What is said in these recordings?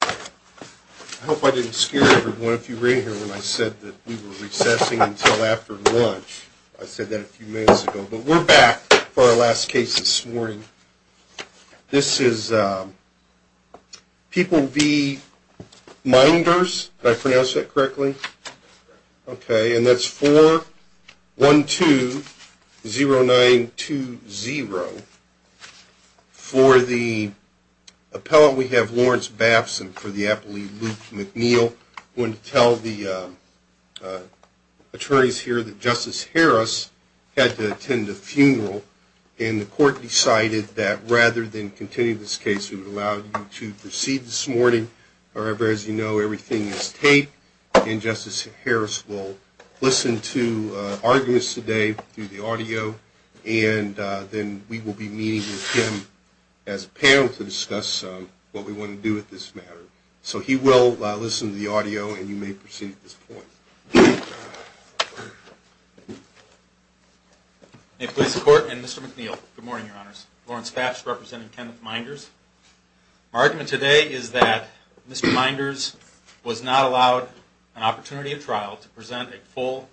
I hope I didn't scare everyone if you were in here when I said that we were recessing until after lunch. I said that a few minutes ago, but we're back for our last case this morning. This is People v. Meinders. Did I pronounce that correctly? I'm going to tell the attorneys here that Justice Harris had to attend a funeral, and the court decided that rather than continue this case, we would allow you to proceed this morning. However, as you know, everything is taped, and Justice Harris will listen to arguments today through the audio, and then we will be meeting with him as a panel to discuss what we want to do with this matter. So he will listen to the audio, and you may proceed at this point. May it please the Court, and Mr. McNeil, good morning, Your Honors. Lawrence Fasch, representing Kenneth Meinders. My argument today is that Mr. Meinders was not allowed an opportunity at trial to present a full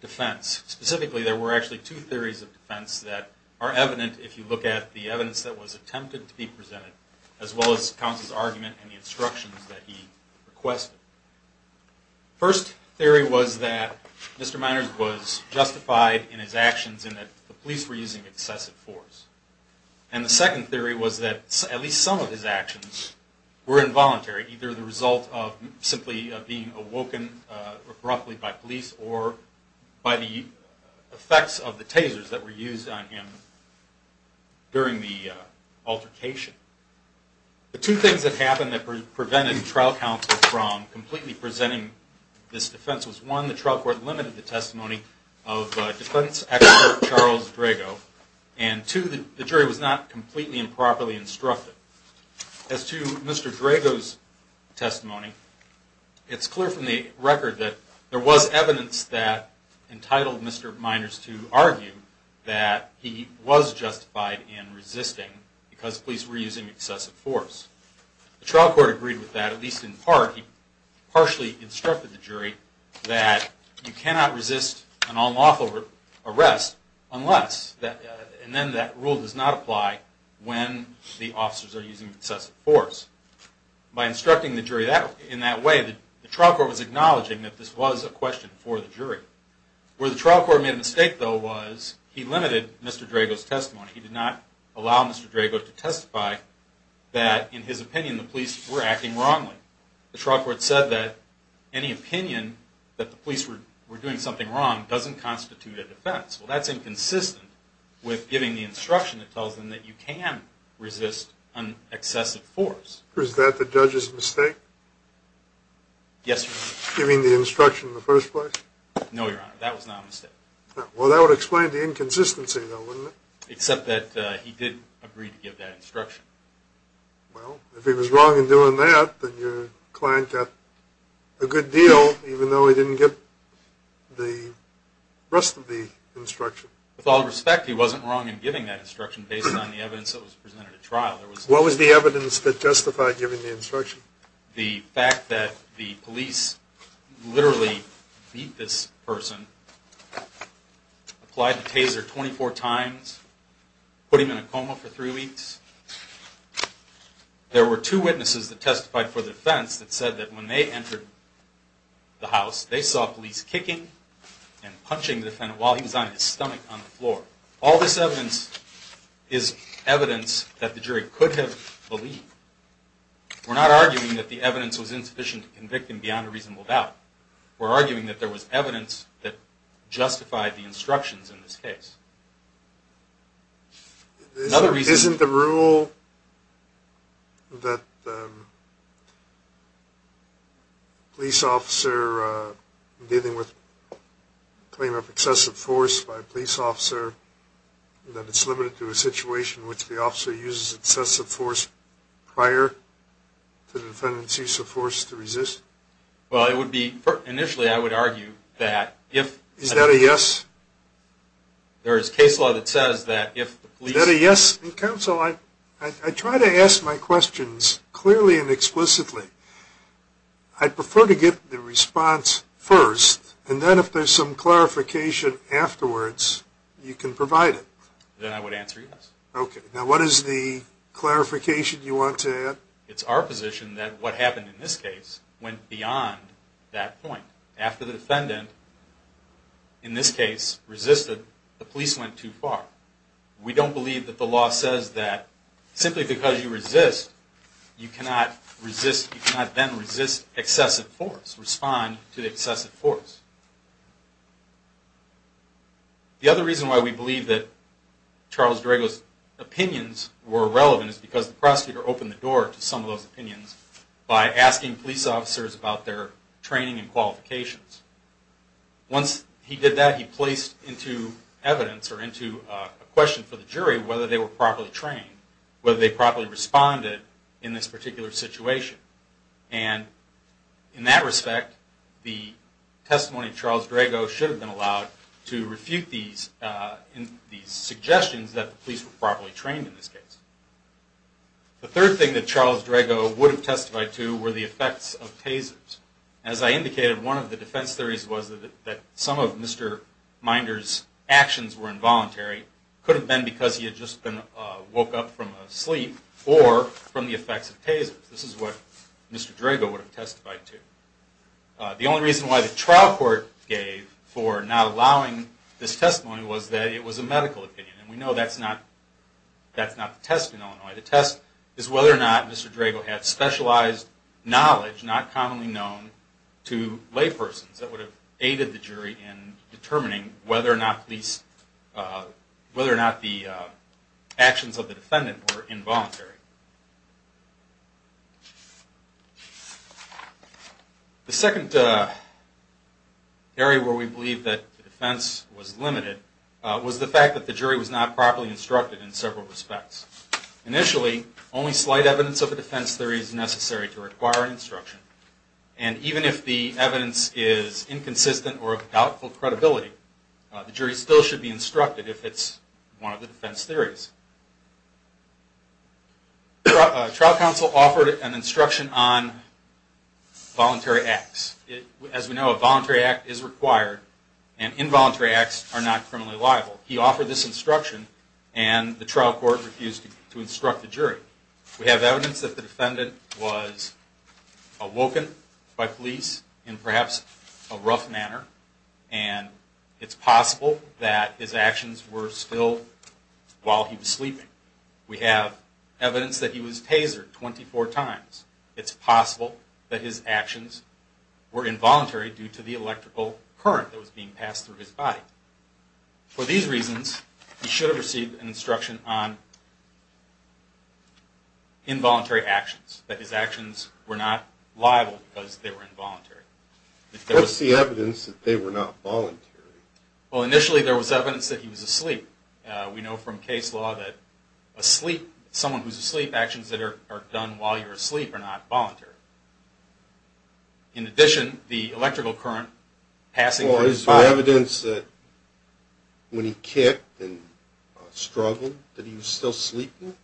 defense. Specifically, there were actually two theories of defense that are evident if you look at the evidence that was attempted to be presented, as well as counsel's argument and the instructions that he requested. First theory was that Mr. Meinders was justified in his actions in that the police were using excessive force. And the second theory was that at least some of his actions were involuntary, either the result of simply being awoken abruptly by police or by the effects of the tasers that were used on him during the altercation. The two things that happened that prevented trial counsel from completely presenting this defense was, one, the trial court limited the testimony of defense expert Charles Drago, and two, the jury was not completely and properly instructed. As to Mr. Drago's testimony, it's clear from the record that there was evidence that entitled Mr. Meinders to argue that he was justified in resisting because police were using excessive force. The trial court agreed with that, at least in part. He partially instructed the jury that you cannot resist an unlawful arrest unless, and then that rule does not apply when the officers are using excessive force. By instructing the jury in that way, the trial court was acknowledging that this was a question for the jury. Where the trial court made a mistake, though, was he limited Mr. Drago's testimony. He did not allow Mr. Drago to testify that, in his opinion, the police were acting wrongly. The trial court said that any opinion that the police were doing something wrong doesn't constitute a defense. Well, that's inconsistent with giving the instruction that tells them that you can resist an excessive force. Was that the judge's mistake? Yes, Your Honor. Giving the instruction in the first place? No, Your Honor. That was not a mistake. Well, that would explain the inconsistency, though, wouldn't it? Except that he did agree to give that instruction. Well, if he was wrong in doing that, then your client got a good deal, even though he didn't get the rest of the instruction. With all respect, he wasn't wrong in giving that instruction based on the evidence that was presented at trial. What was the evidence that justified giving the instruction? The fact that the police literally beat this person, applied the taser 24 times, put him in a coma for three weeks. There were two witnesses that testified for the defense that said that when they entered the house, they saw police kicking and punching the defendant while he was on his stomach on the floor. All this evidence is evidence that the jury could have believed. We're not arguing that the evidence was insufficient to convict him beyond a reasonable doubt. We're arguing that there was evidence that justified the instructions in this case. Isn't the rule that a police officer dealing with a claim of excessive force by a police officer, that it's limited to a situation in which the officer uses excessive force prior to the defendant's use of force to resist? Well, initially I would argue that if... Is that a yes? There is case law that says that if the police... Is that a yes? Counsel, I try to ask my questions clearly and explicitly. I'd prefer to get the response first, and then if there's some clarification afterwards, you can provide it. Then I would answer yes. Okay. Now what is the clarification you want to add? It's our position that what happened in this case went beyond that point. After the defendant, in this case, resisted, the police went too far. We don't believe that the law says that simply because you resist, you cannot then resist excessive force, respond to the excessive force. The other reason why we believe that Charles Drago's opinions were relevant is because the prosecutor opened the door to some of those opinions Once he did that, he placed into evidence or into a question for the jury whether they were properly trained, whether they properly responded in this particular situation. And in that respect, the testimony of Charles Drago should have been allowed to refute these suggestions that the police were properly trained in this case. The third thing that Charles Drago would have testified to were the effects of tasers. As I indicated, one of the defense theories was that some of Mr. Minder's actions were involuntary. It could have been because he had just been woke up from a sleep or from the effects of tasers. This is what Mr. Drago would have testified to. The only reason why the trial court gave for not allowing this testimony was that it was a medical opinion. And we know that's not the test in Illinois. The test is whether or not Mr. Drago had specialized knowledge, not commonly known, to laypersons that would have aided the jury in determining whether or not the actions of the defendant were involuntary. The second area where we believe that the defense was limited was the fact that the jury was not properly instructed in several respects. Initially, only slight evidence of a defense theory is necessary to require an instruction. And even if the evidence is inconsistent or of doubtful credibility, the jury still should be instructed if it's one of the defense theories. Trial counsel offered an instruction on voluntary acts. As we know, a voluntary act is required, and involuntary acts are not criminally liable. He offered this instruction, and the trial court refused to instruct the jury. We have evidence that the defendant was awoken by police in perhaps a rough manner, and it's possible that his actions were still while he was sleeping. We have evidence that he was tasered 24 times. It's possible that his actions were involuntary due to the electrical current that was being passed through his body. For these reasons, he should have received an instruction on involuntary actions, that his actions were not liable because they were involuntary. What's the evidence that they were not voluntary? Well, initially there was evidence that he was asleep. We know from case law that someone who's asleep, actions that are done while you're asleep are not voluntary. In addition, the electrical current passing through his body... when he kicked and struggled, that he was still sleeping?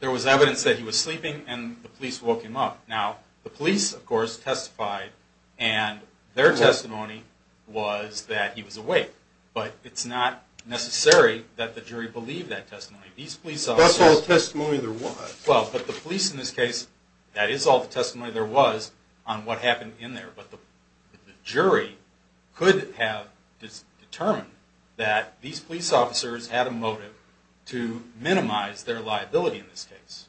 There was evidence that he was sleeping, and the police woke him up. Now, the police, of course, testified, and their testimony was that he was awake. But it's not necessary that the jury believe that testimony. That's all the testimony there was. Well, but the police in this case, that is all the testimony there was on what happened in there. But the jury could have determined that these police officers had a motive to minimize their liability in this case.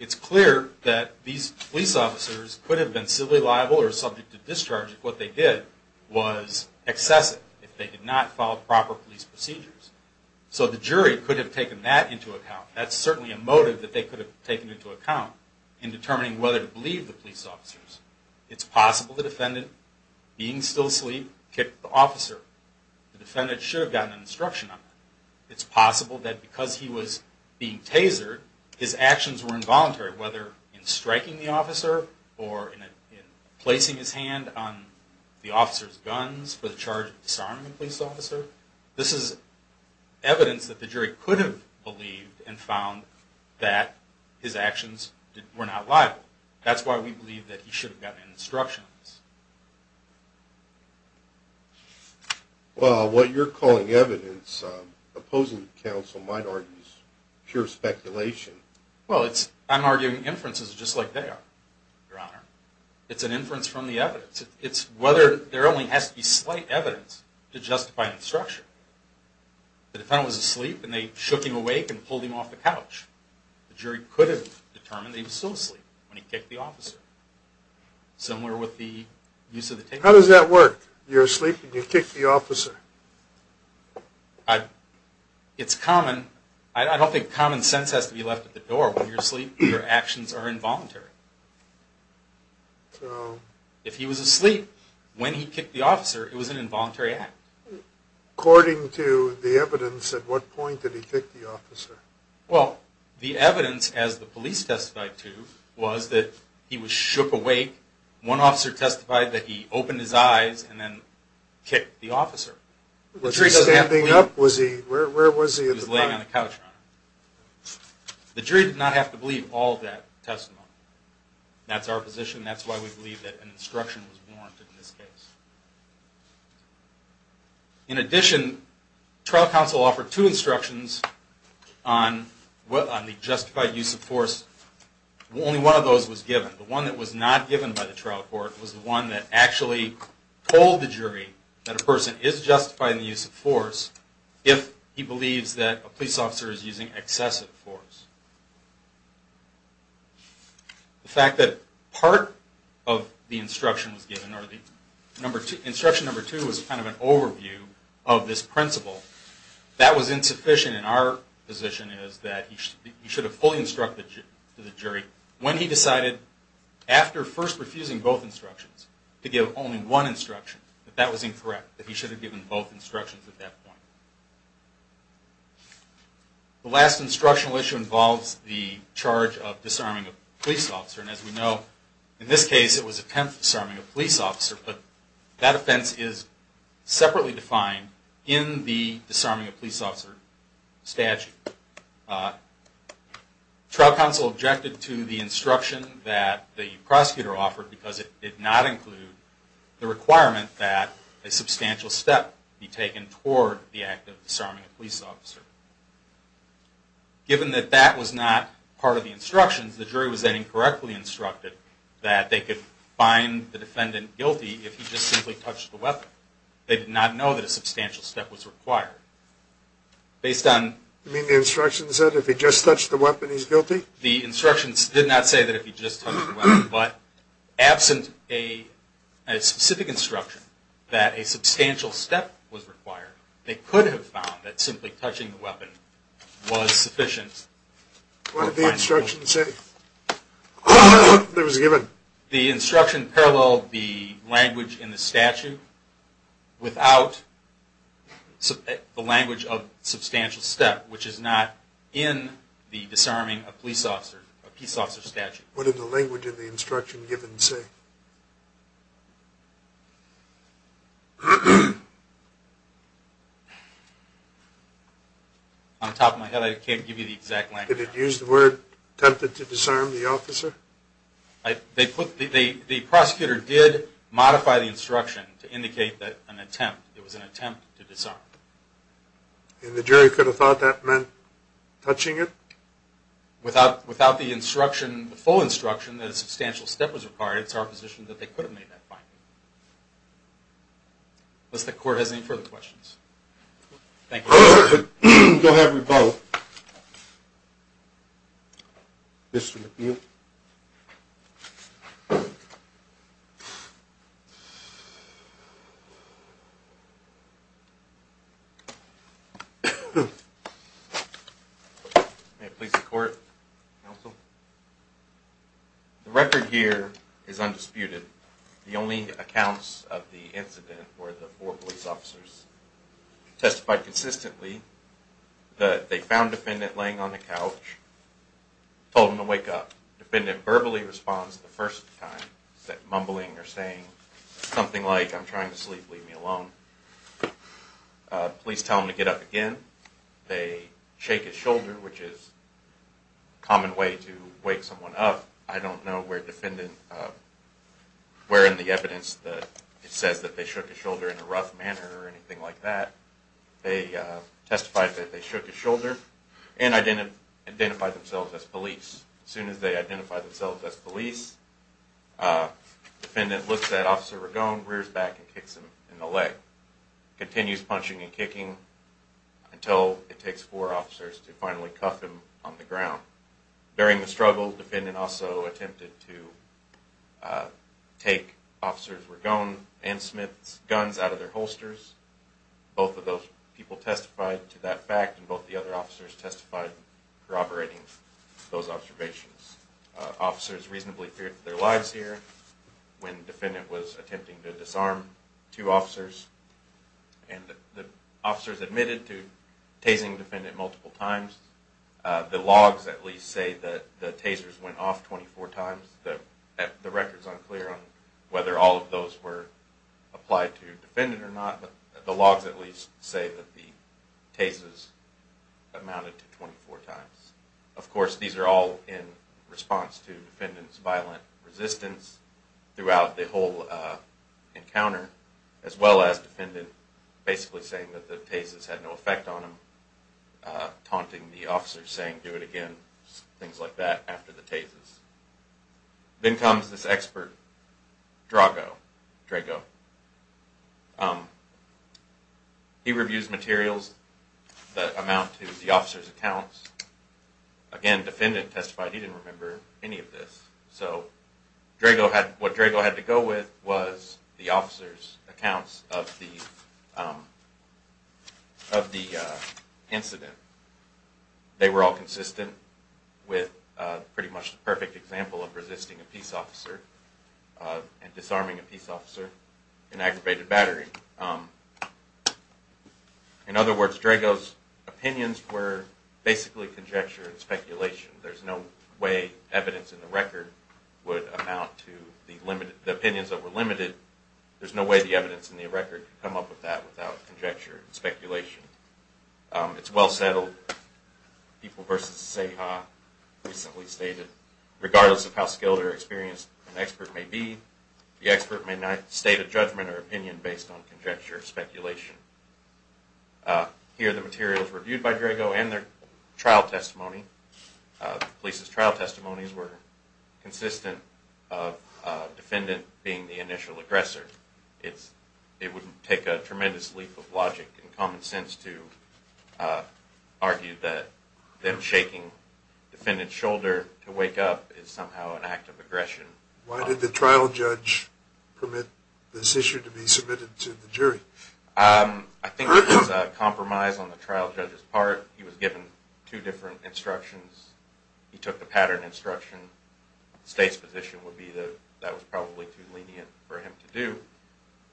It's clear that these police officers could have been civilly liable or subject to discharge if what they did was excessive, if they did not follow proper police procedures. So the jury could have taken that into account. That's certainly a motive that they could have taken into account in determining whether to believe the police officers. It's possible the defendant, being still asleep, kicked the officer. The defendant should have gotten an instruction on that. It's possible that because he was being tasered, his actions were involuntary, whether in striking the officer or in placing his hand on the officer's guns for the charge of disarming a police officer. This is evidence that the jury could have believed and found that his actions were not liable. That's why we believe that he should have gotten an instruction on this. Well, what you're calling evidence opposing counsel might argue is pure speculation. Well, I'm arguing inferences just like they are, Your Honor. It's an inference from the evidence. It's whether there only has to be slight evidence to justify an instruction. The defendant was asleep and they shook him awake and pulled him off the couch. The jury could have determined that he was still asleep when he kicked the officer, similar with the use of the tape recorder. How does that work? You're asleep and you kick the officer? It's common. I don't think common sense has to be left at the door. When you're asleep, your actions are involuntary. If he was asleep when he kicked the officer, it was an involuntary act. According to the evidence, at what point did he kick the officer? Well, the evidence, as the police testified to, was that he was shook awake. One officer testified that he opened his eyes and then kicked the officer. Was he standing up? Where was he at the time? He was laying on the couch, Your Honor. The jury did not have to believe all of that testimony. That's our position. That's why we believe that an instruction was warranted in this case. In addition, trial counsel offered two instructions on the justified use of force. Only one of those was given. The one that was not given by the trial court was the one that actually told the jury that a person is justified in the use of force if he believes that a police officer is using excessive force. The fact that part of the instruction was given, or instruction number two, was kind of an overview of this principle, that was insufficient. And our position is that he should have fully instructed the jury when he decided, after first refusing both instructions, to give only one instruction, that that was incorrect. That he should have given both instructions at that point. The last instructional issue involves the charge of disarming a police officer. And as we know, in this case, it was an attempt at disarming a police officer. But that offense is separately defined in the disarming a police officer statute. Trial counsel objected to the instruction that the prosecutor offered, because it did not include the requirement that a substantial step be taken toward the act of disarming a police officer. Given that that was not part of the instructions, the jury was then incorrectly instructed that they could find the defendant guilty if he just simply touched the weapon. They did not know that a substantial step was required. Based on... You mean the instruction said if he just touched the weapon, he's guilty? The instruction did not say that if he just touched the weapon, but absent a specific instruction that a substantial step was required, they could have found that simply touching the weapon was sufficient. What did the instruction say? The instruction paralleled the language in the statute without the language of substantial step, which is not in the disarming a police officer, a peace officer statute. What did the language in the instruction give and say? On top of my head, I can't give you the exact language. Did it use the word attempted to disarm the officer? The prosecutor did modify the instruction to indicate that an attempt, it was an attempt to disarm. And the jury could have thought that meant touching it? Without the instruction, the full instruction, that a substantial step was required, it's our position that they could have made that finding. Unless the court has any further questions. Thank you. Go ahead, Rebel. Mr. McNeil. Good morning, police and court, counsel. The record here is undisputed. The only accounts of the incident were the four police officers. Testified consistently that they found defendant laying on the couch, told him to wake up. Defendant verbally responds the first time, mumbling or saying something like, I'm trying to sleep, leave me alone. Police tell him to get up again. They shake his shoulder, which is a common way to wake someone up. I don't know where defendant, where in the evidence that it says that they shook his shoulder in a rough manner or anything like that. They testified that they shook his shoulder and identified themselves as police. As soon as they identified themselves as police, defendant looks at Officer Regone, rears back, and kicks him in the leg. Continues punching and kicking until it takes four officers to finally cuff him on the ground. During the struggle, defendant also attempted to take Officer Regone and Smith's guns out of their holsters. Both of those people testified to that fact, and both the other officers testified corroborating those observations. Officers reasonably feared for their lives here when defendant was attempting to disarm two officers, and the officers admitted to tasing defendant multiple times. The logs at least say that the tasers went off 24 times. The record's unclear on whether all of those were applied to defendant or not, but the logs at least say that the tasers amounted to 24 times. Of course, these are all in response to defendant's violent resistance throughout the whole encounter, as well as defendant basically saying that the tasers had no effect on him, taunting the officers saying, do it again, things like that after the tasers. Then comes this expert, Drago. He reviews materials that amount to the officers' accounts. Again, defendant testified he didn't remember any of this. So what Drago had to go with was the officers' accounts of the incident. They were all consistent with pretty much the perfect example of resisting a peace officer and disarming a peace officer in aggravated battery. In other words, Drago's opinions were basically conjecture and speculation. There's no way evidence in the record would amount to the opinions that were limited. There's no way the evidence in the record could come up with that without conjecture and speculation. It's well settled. People versus Seha recently stated, regardless of how skilled or experienced an expert may be, the expert may not state a judgment or opinion based on conjecture or speculation. Here are the materials reviewed by Drago and their trial testimony. The police's trial testimonies were consistent of defendant being the initial aggressor. It would take a tremendous leap of logic and common sense to argue that them shaking defendant's shoulder to wake up is somehow an act of aggression. Why did the trial judge permit this issue to be submitted to the jury? I think it was a compromise on the trial judge's part. He was given two different instructions. He took the pattern instruction. The state's position would be that that was probably too lenient for him to do.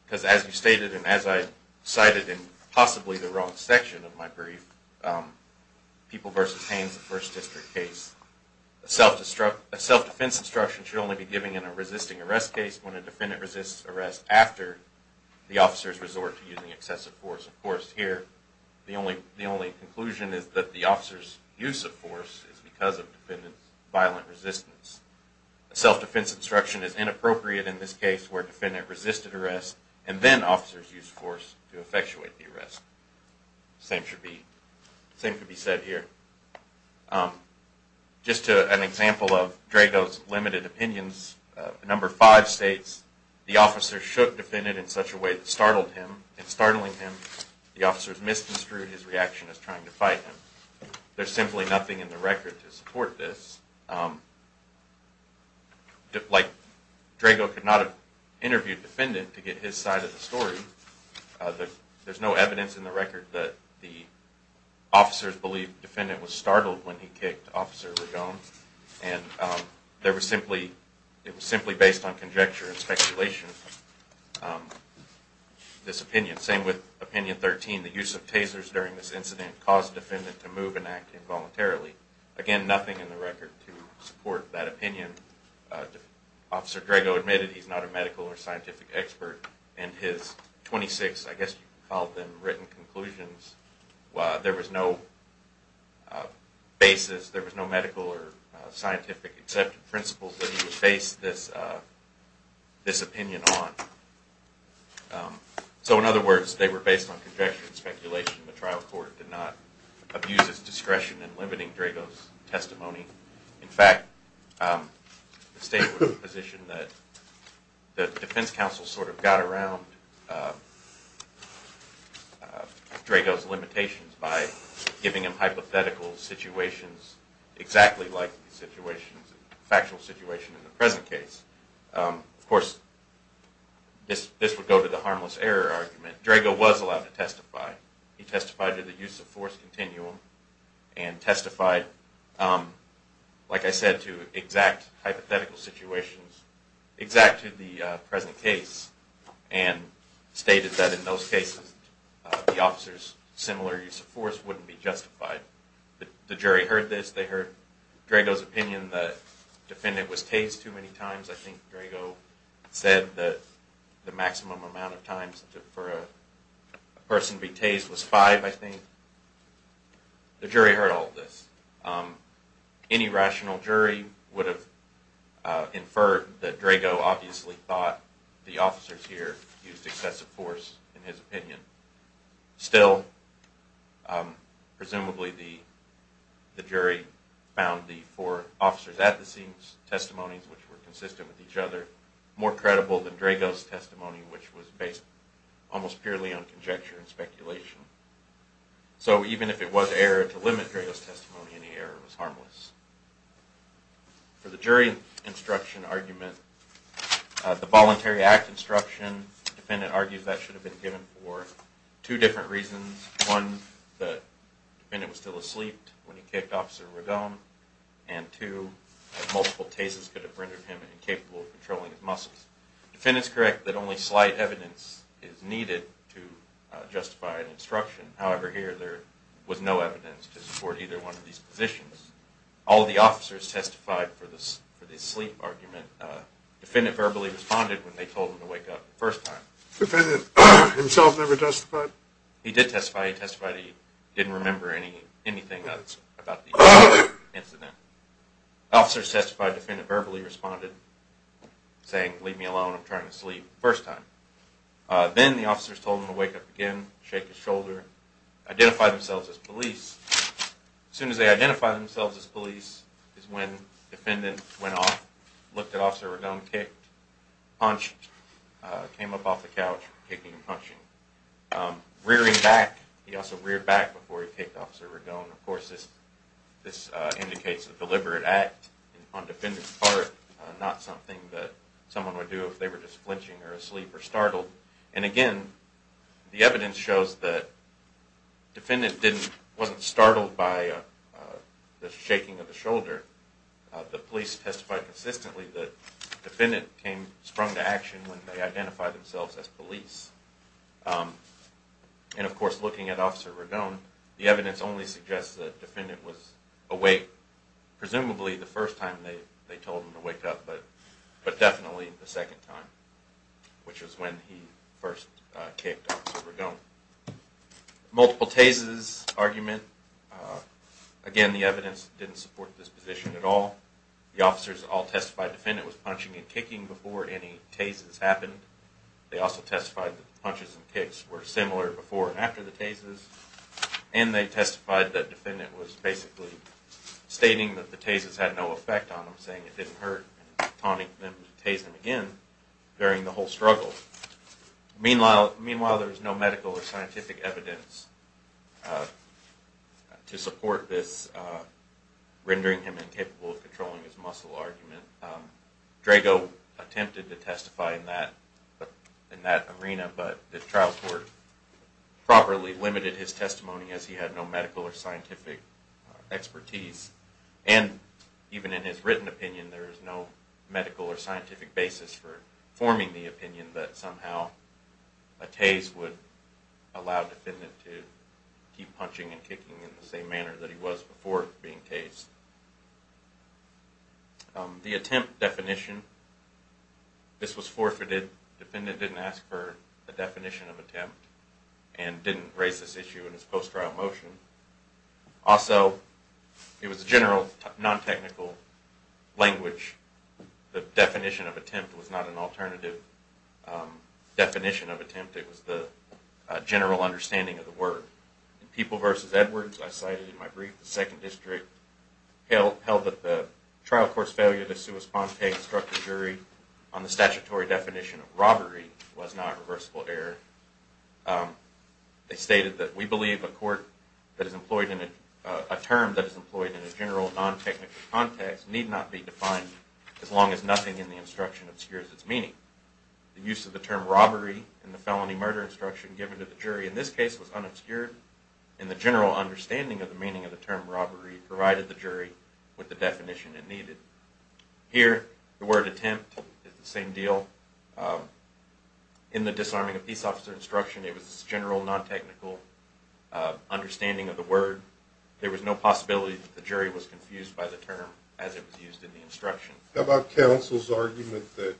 Because as you stated and as I cited in possibly the wrong section of my brief, People versus Haynes, the first district case, a self-defense instruction should only be given in a resisting arrest case when a defendant resists arrest after the officer's resort to using excessive force. Of course, here the only conclusion is that the officer's use of force is because of defendant's violent resistance. A self-defense instruction is inappropriate in this case where defendant resisted arrest and then officers used force to effectuate the arrest. The same could be said here. Just an example of Drago's limited opinions, number five states, the officer shook defendant in such a way that startled him. In startling him, the officers misconstrued his reaction as trying to fight him. There's simply nothing in the record to support this. Like Drago could not have interviewed defendant to get his side of the story. There's no evidence in the record that the officers believed defendant was startled when he kicked Officer Regone. It was simply based on conjecture and speculation, this opinion. Same with opinion 13, the use of tasers during this incident caused defendant to move and act involuntarily. Again, nothing in the record to support that opinion. Officer Drago admitted he's not a medical or scientific expert and his 26, I guess you could call them, written conclusions, there was no basis, there was no medical or scientific accepted principles that he would base this opinion on. So in other words, they were based on conjecture and speculation. The trial court did not abuse its discretion in limiting Drago's testimony. In fact, the state was in a position that the defense counsel sort of got around Drago's limitations by giving him hypothetical situations exactly like the factual situation in the present case. Of course, this would go to the harmless error argument. Drago was allowed to testify. He testified to the use of force continuum and testified, like I said, to exact hypothetical situations, exact to the present case, and stated that in those cases the officer's similar use of force wouldn't be justified. Even when the defendant was tased too many times, I think Drago said that the maximum amount of times for a person to be tased was five, I think, the jury heard all of this. Any rational jury would have inferred that Drago obviously thought the officers here used excessive force in his opinion. Still, presumably the jury found the four officers at the scene's testimonies, which were consistent with each other, more credible than Drago's testimony, which was based almost purely on conjecture and speculation. So even if it was error to limit Drago's testimony, any error was harmless. For the jury instruction argument, the voluntary act instruction, the defendant argues that should have been given for two different reasons. One, the defendant was still asleep when he kicked Officer Ragon, and two, multiple tases could have rendered him incapable of controlling his muscles. The defendant is correct that only slight evidence is needed to justify an instruction. However, here there was no evidence to support either one of these positions. All of the officers testified for the sleep argument. The defendant verbally responded when they told him to wake up the first time. The defendant himself never testified? He did testify. He testified he didn't remember anything about the incident. The officers testified. The defendant verbally responded, saying, leave me alone, I'm trying to sleep, the first time. Then the officers told him to wake up again, shake his shoulder, identify themselves as police. As soon as they identified themselves as police is when the defendant went off, looked at Officer Ragon, kicked, punched, came up off the couch, kicking and punching. Rearing back, he also reared back before he kicked Officer Ragon. Of course, this indicates a deliberate act on the defendant's part, not something that someone would do if they were just flinching or asleep or startled. And again, the evidence shows that the defendant wasn't startled by the shaking of the shoulder. The police testified consistently that the defendant sprung to action when they identified themselves as police. And of course, looking at Officer Ragon, the evidence only suggests that the defendant was awake, presumably the first time they told him to wake up, but definitely the second time, which was when he first kicked Officer Ragon. Multiple tases argument. Again, the evidence didn't support this position at all. The officers all testified the defendant was punching and kicking before any tases happened. They also testified that the punches and kicks were similar before and after the tases. And they testified that the defendant was basically stating that the tases had no effect on him, saying it didn't hurt, and taunting them to tase him again during the whole struggle. Meanwhile, there was no medical or scientific evidence to support this, rendering him incapable of controlling his muscle argument. Drago attempted to testify in that arena, but the trial court properly limited his testimony as he had no medical or scientific expertise. And even in his written opinion, there is no medical or scientific basis for forming the opinion that somehow a tase would allow the defendant to keep punching and kicking in the same manner that he was before being tased. The attempt definition. This was forfeited. The defendant didn't ask for a definition of attempt and didn't raise this issue in his post-trial motion. Also, it was a general, non-technical language. The definition of attempt was not an alternative definition of attempt. It was the general understanding of the word. In People v. Edwards, I cited in my brief, the 2nd District held that the trial court's failure to sua sponte instruct the jury on the statutory definition of robbery was not a reversible error. They stated that we believe a term that is employed in a general, non-technical context need not be defined as long as nothing in the instruction obscures its meaning. The use of the term robbery in the felony murder instruction given to the jury in this case was unobscured, and the general understanding of the meaning of the term robbery provided the jury with the definition it needed. Here, the word attempt is the same deal. In the disarming of peace officer instruction, it was general, non-technical understanding of the word. There was no possibility that the jury was confused by the term as it was used in the instruction. How about counsel's argument that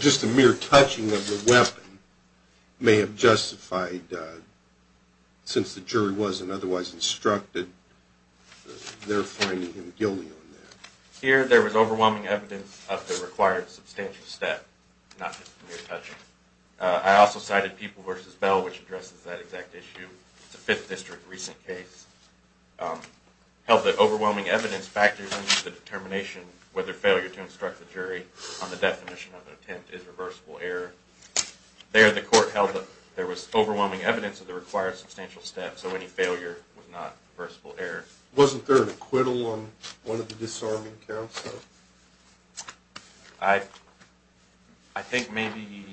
just the mere touching of the weapon may have justified, since the jury wasn't otherwise instructed, their finding him guilty on that? Here, there was overwhelming evidence of the required substantial step, not just the mere touching. I also cited People v. Bell, which addresses that exact issue. It's a Fifth District recent case. It held that overwhelming evidence factors into the determination whether failure to instruct the jury on the definition of an attempt is reversible error. There, the court held that there was overwhelming evidence of the required substantial step, so any failure was not reversible error. Wasn't there an acquittal on one of the disarming counts, though? I think maybe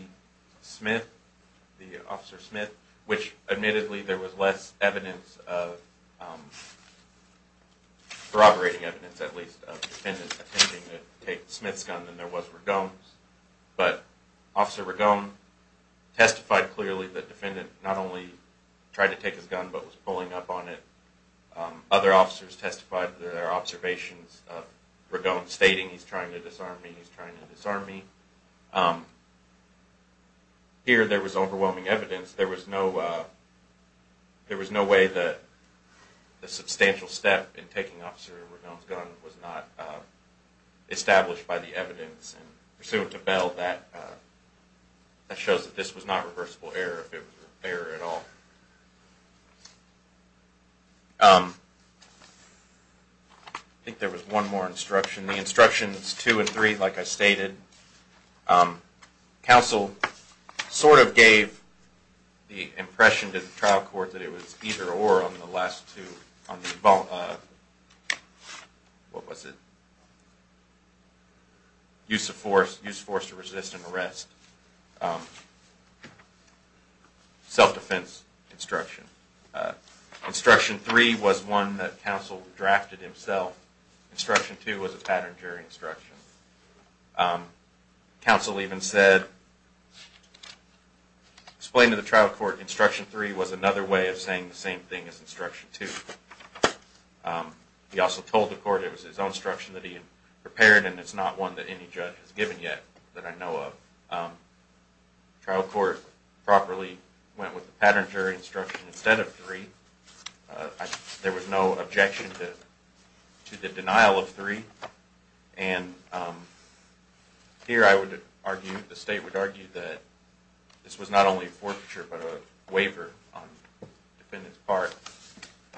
Smith, the officer Smith, which admittedly there was less evidence of, corroborating evidence at least, of defendants attempting to take Smith's gun than there was Ragone's, but officer Ragone testified clearly that defendant not only tried to take his gun but was pulling up on it. Other officers testified that there are observations of Ragone stating, he's trying to disarm me, he's trying to disarm me. Here, there was overwhelming evidence. There was no way that the substantial step in taking officer Ragone's gun was not established by the evidence. And pursuant to Bell, that shows that this was not reversible error, if it was an error at all. I think there was one more instruction. The instructions two and three, like I stated, counsel sort of gave the impression to the trial court that it was either-or on the last two. On the, what was it? Use of force, use of force to resist an arrest. Self-defense instruction. Instruction three was one that counsel drafted himself. Instruction two was a pattern jury instruction. Counsel even said, explained to the trial court, instruction three was another way of saying the same thing as instruction two. He also told the court it was his own instruction that he had prepared and it's not one that any judge has given yet that I know of. Trial court properly went with the pattern jury instruction instead of three. There was no objection to the denial of three. And here I would argue, the state would argue, that this was not only a forfeiture but a waiver on the defendant's part,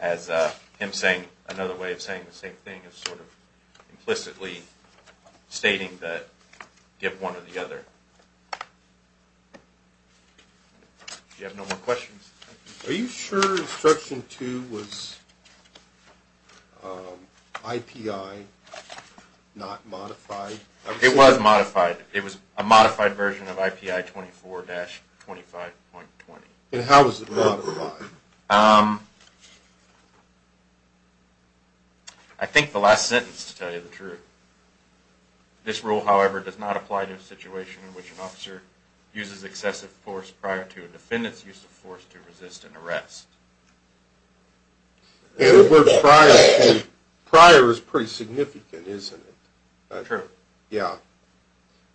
as him saying another way of saying the same thing is sort of implicitly stating that give one or the other. If you have no more questions. Are you sure instruction two was IPI not modified? It was modified. It was a modified version of IPI 24-25.20. And how was it modified? I think the last sentence to tell you the truth. This rule, however, does not apply to a situation in which an officer uses excessive force prior to a defendant's use of force to resist an arrest. And the word prior is pretty significant, isn't it? True. Yeah.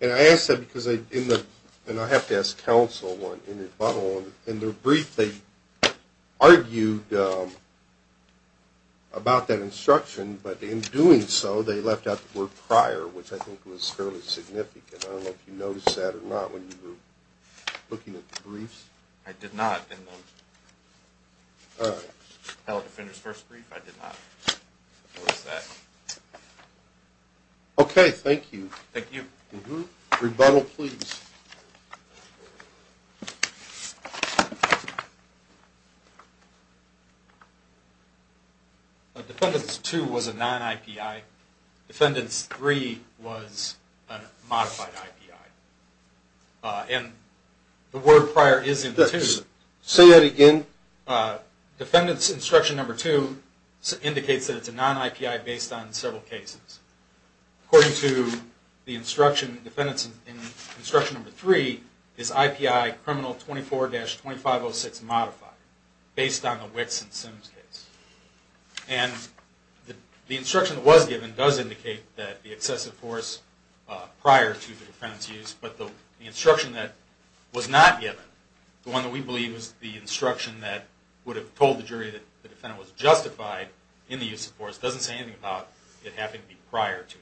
And I ask that because in the, and I have to ask counsel in rebuttal, in their brief they argued about that instruction, but in doing so they left out the word prior, which I think was fairly significant. I don't know if you noticed that or not when you were looking at the briefs. I did not in the appellate defender's first brief. I did not notice that. Okay. Thank you. Thank you. Rebuttal, please. Defendant's two was a non-IPI. Defendant's three was a modified IPI. And the word prior is in the two. Say that again. Defendant's instruction number two indicates that it's a non-IPI based on several cases. According to the instruction, defendant's instruction number three is IPI criminal 24-2506 modified, based on the Witts and Sims case. And the instruction that was given does indicate that the excessive force prior to the defendant's use, but the instruction that was not given, the one that we believe was the instruction that would have told the jury that the defendant was justified in the use of force, doesn't say anything about it having to be prior to.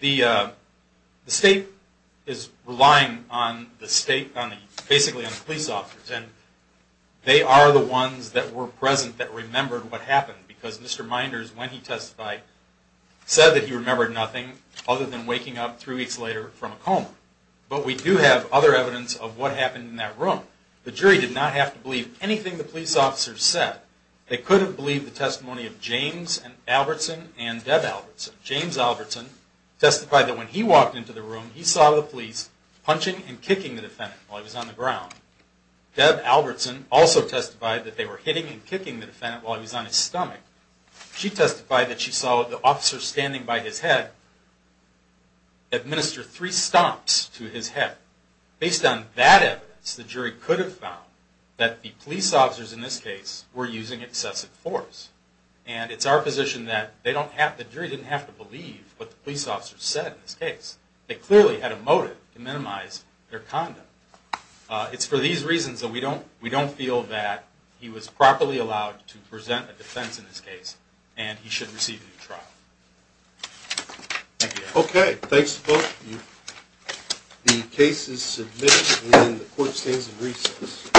The state is relying on the state, basically on the police officers, and they are the ones that were present that remembered what happened, because Mr. Minders, when he testified, said that he remembered nothing other than waking up three weeks later from a coma. But we do have other evidence of what happened in that room. The jury did not have to believe anything the police officers said. They could have believed the testimony of James Albertson and Deb Albertson. James Albertson testified that when he walked into the room, he saw the police punching and kicking the defendant while he was on the ground. Deb Albertson also testified that they were hitting and kicking the defendant while he was on his stomach. She testified that she saw the officer standing by his head administer three stomps to his head. Based on that evidence, the jury could have found that the police officers in this case were using excessive force. And it's our position that the jury didn't have to believe what the police officers said in this case. They clearly had a motive to minimize their conduct. It's for these reasons that we don't feel that he was properly allowed to present a defense in this case, and he should receive a new trial. Thank you. Okay. Thanks to both of you. The case is submitted and the court stands in recess.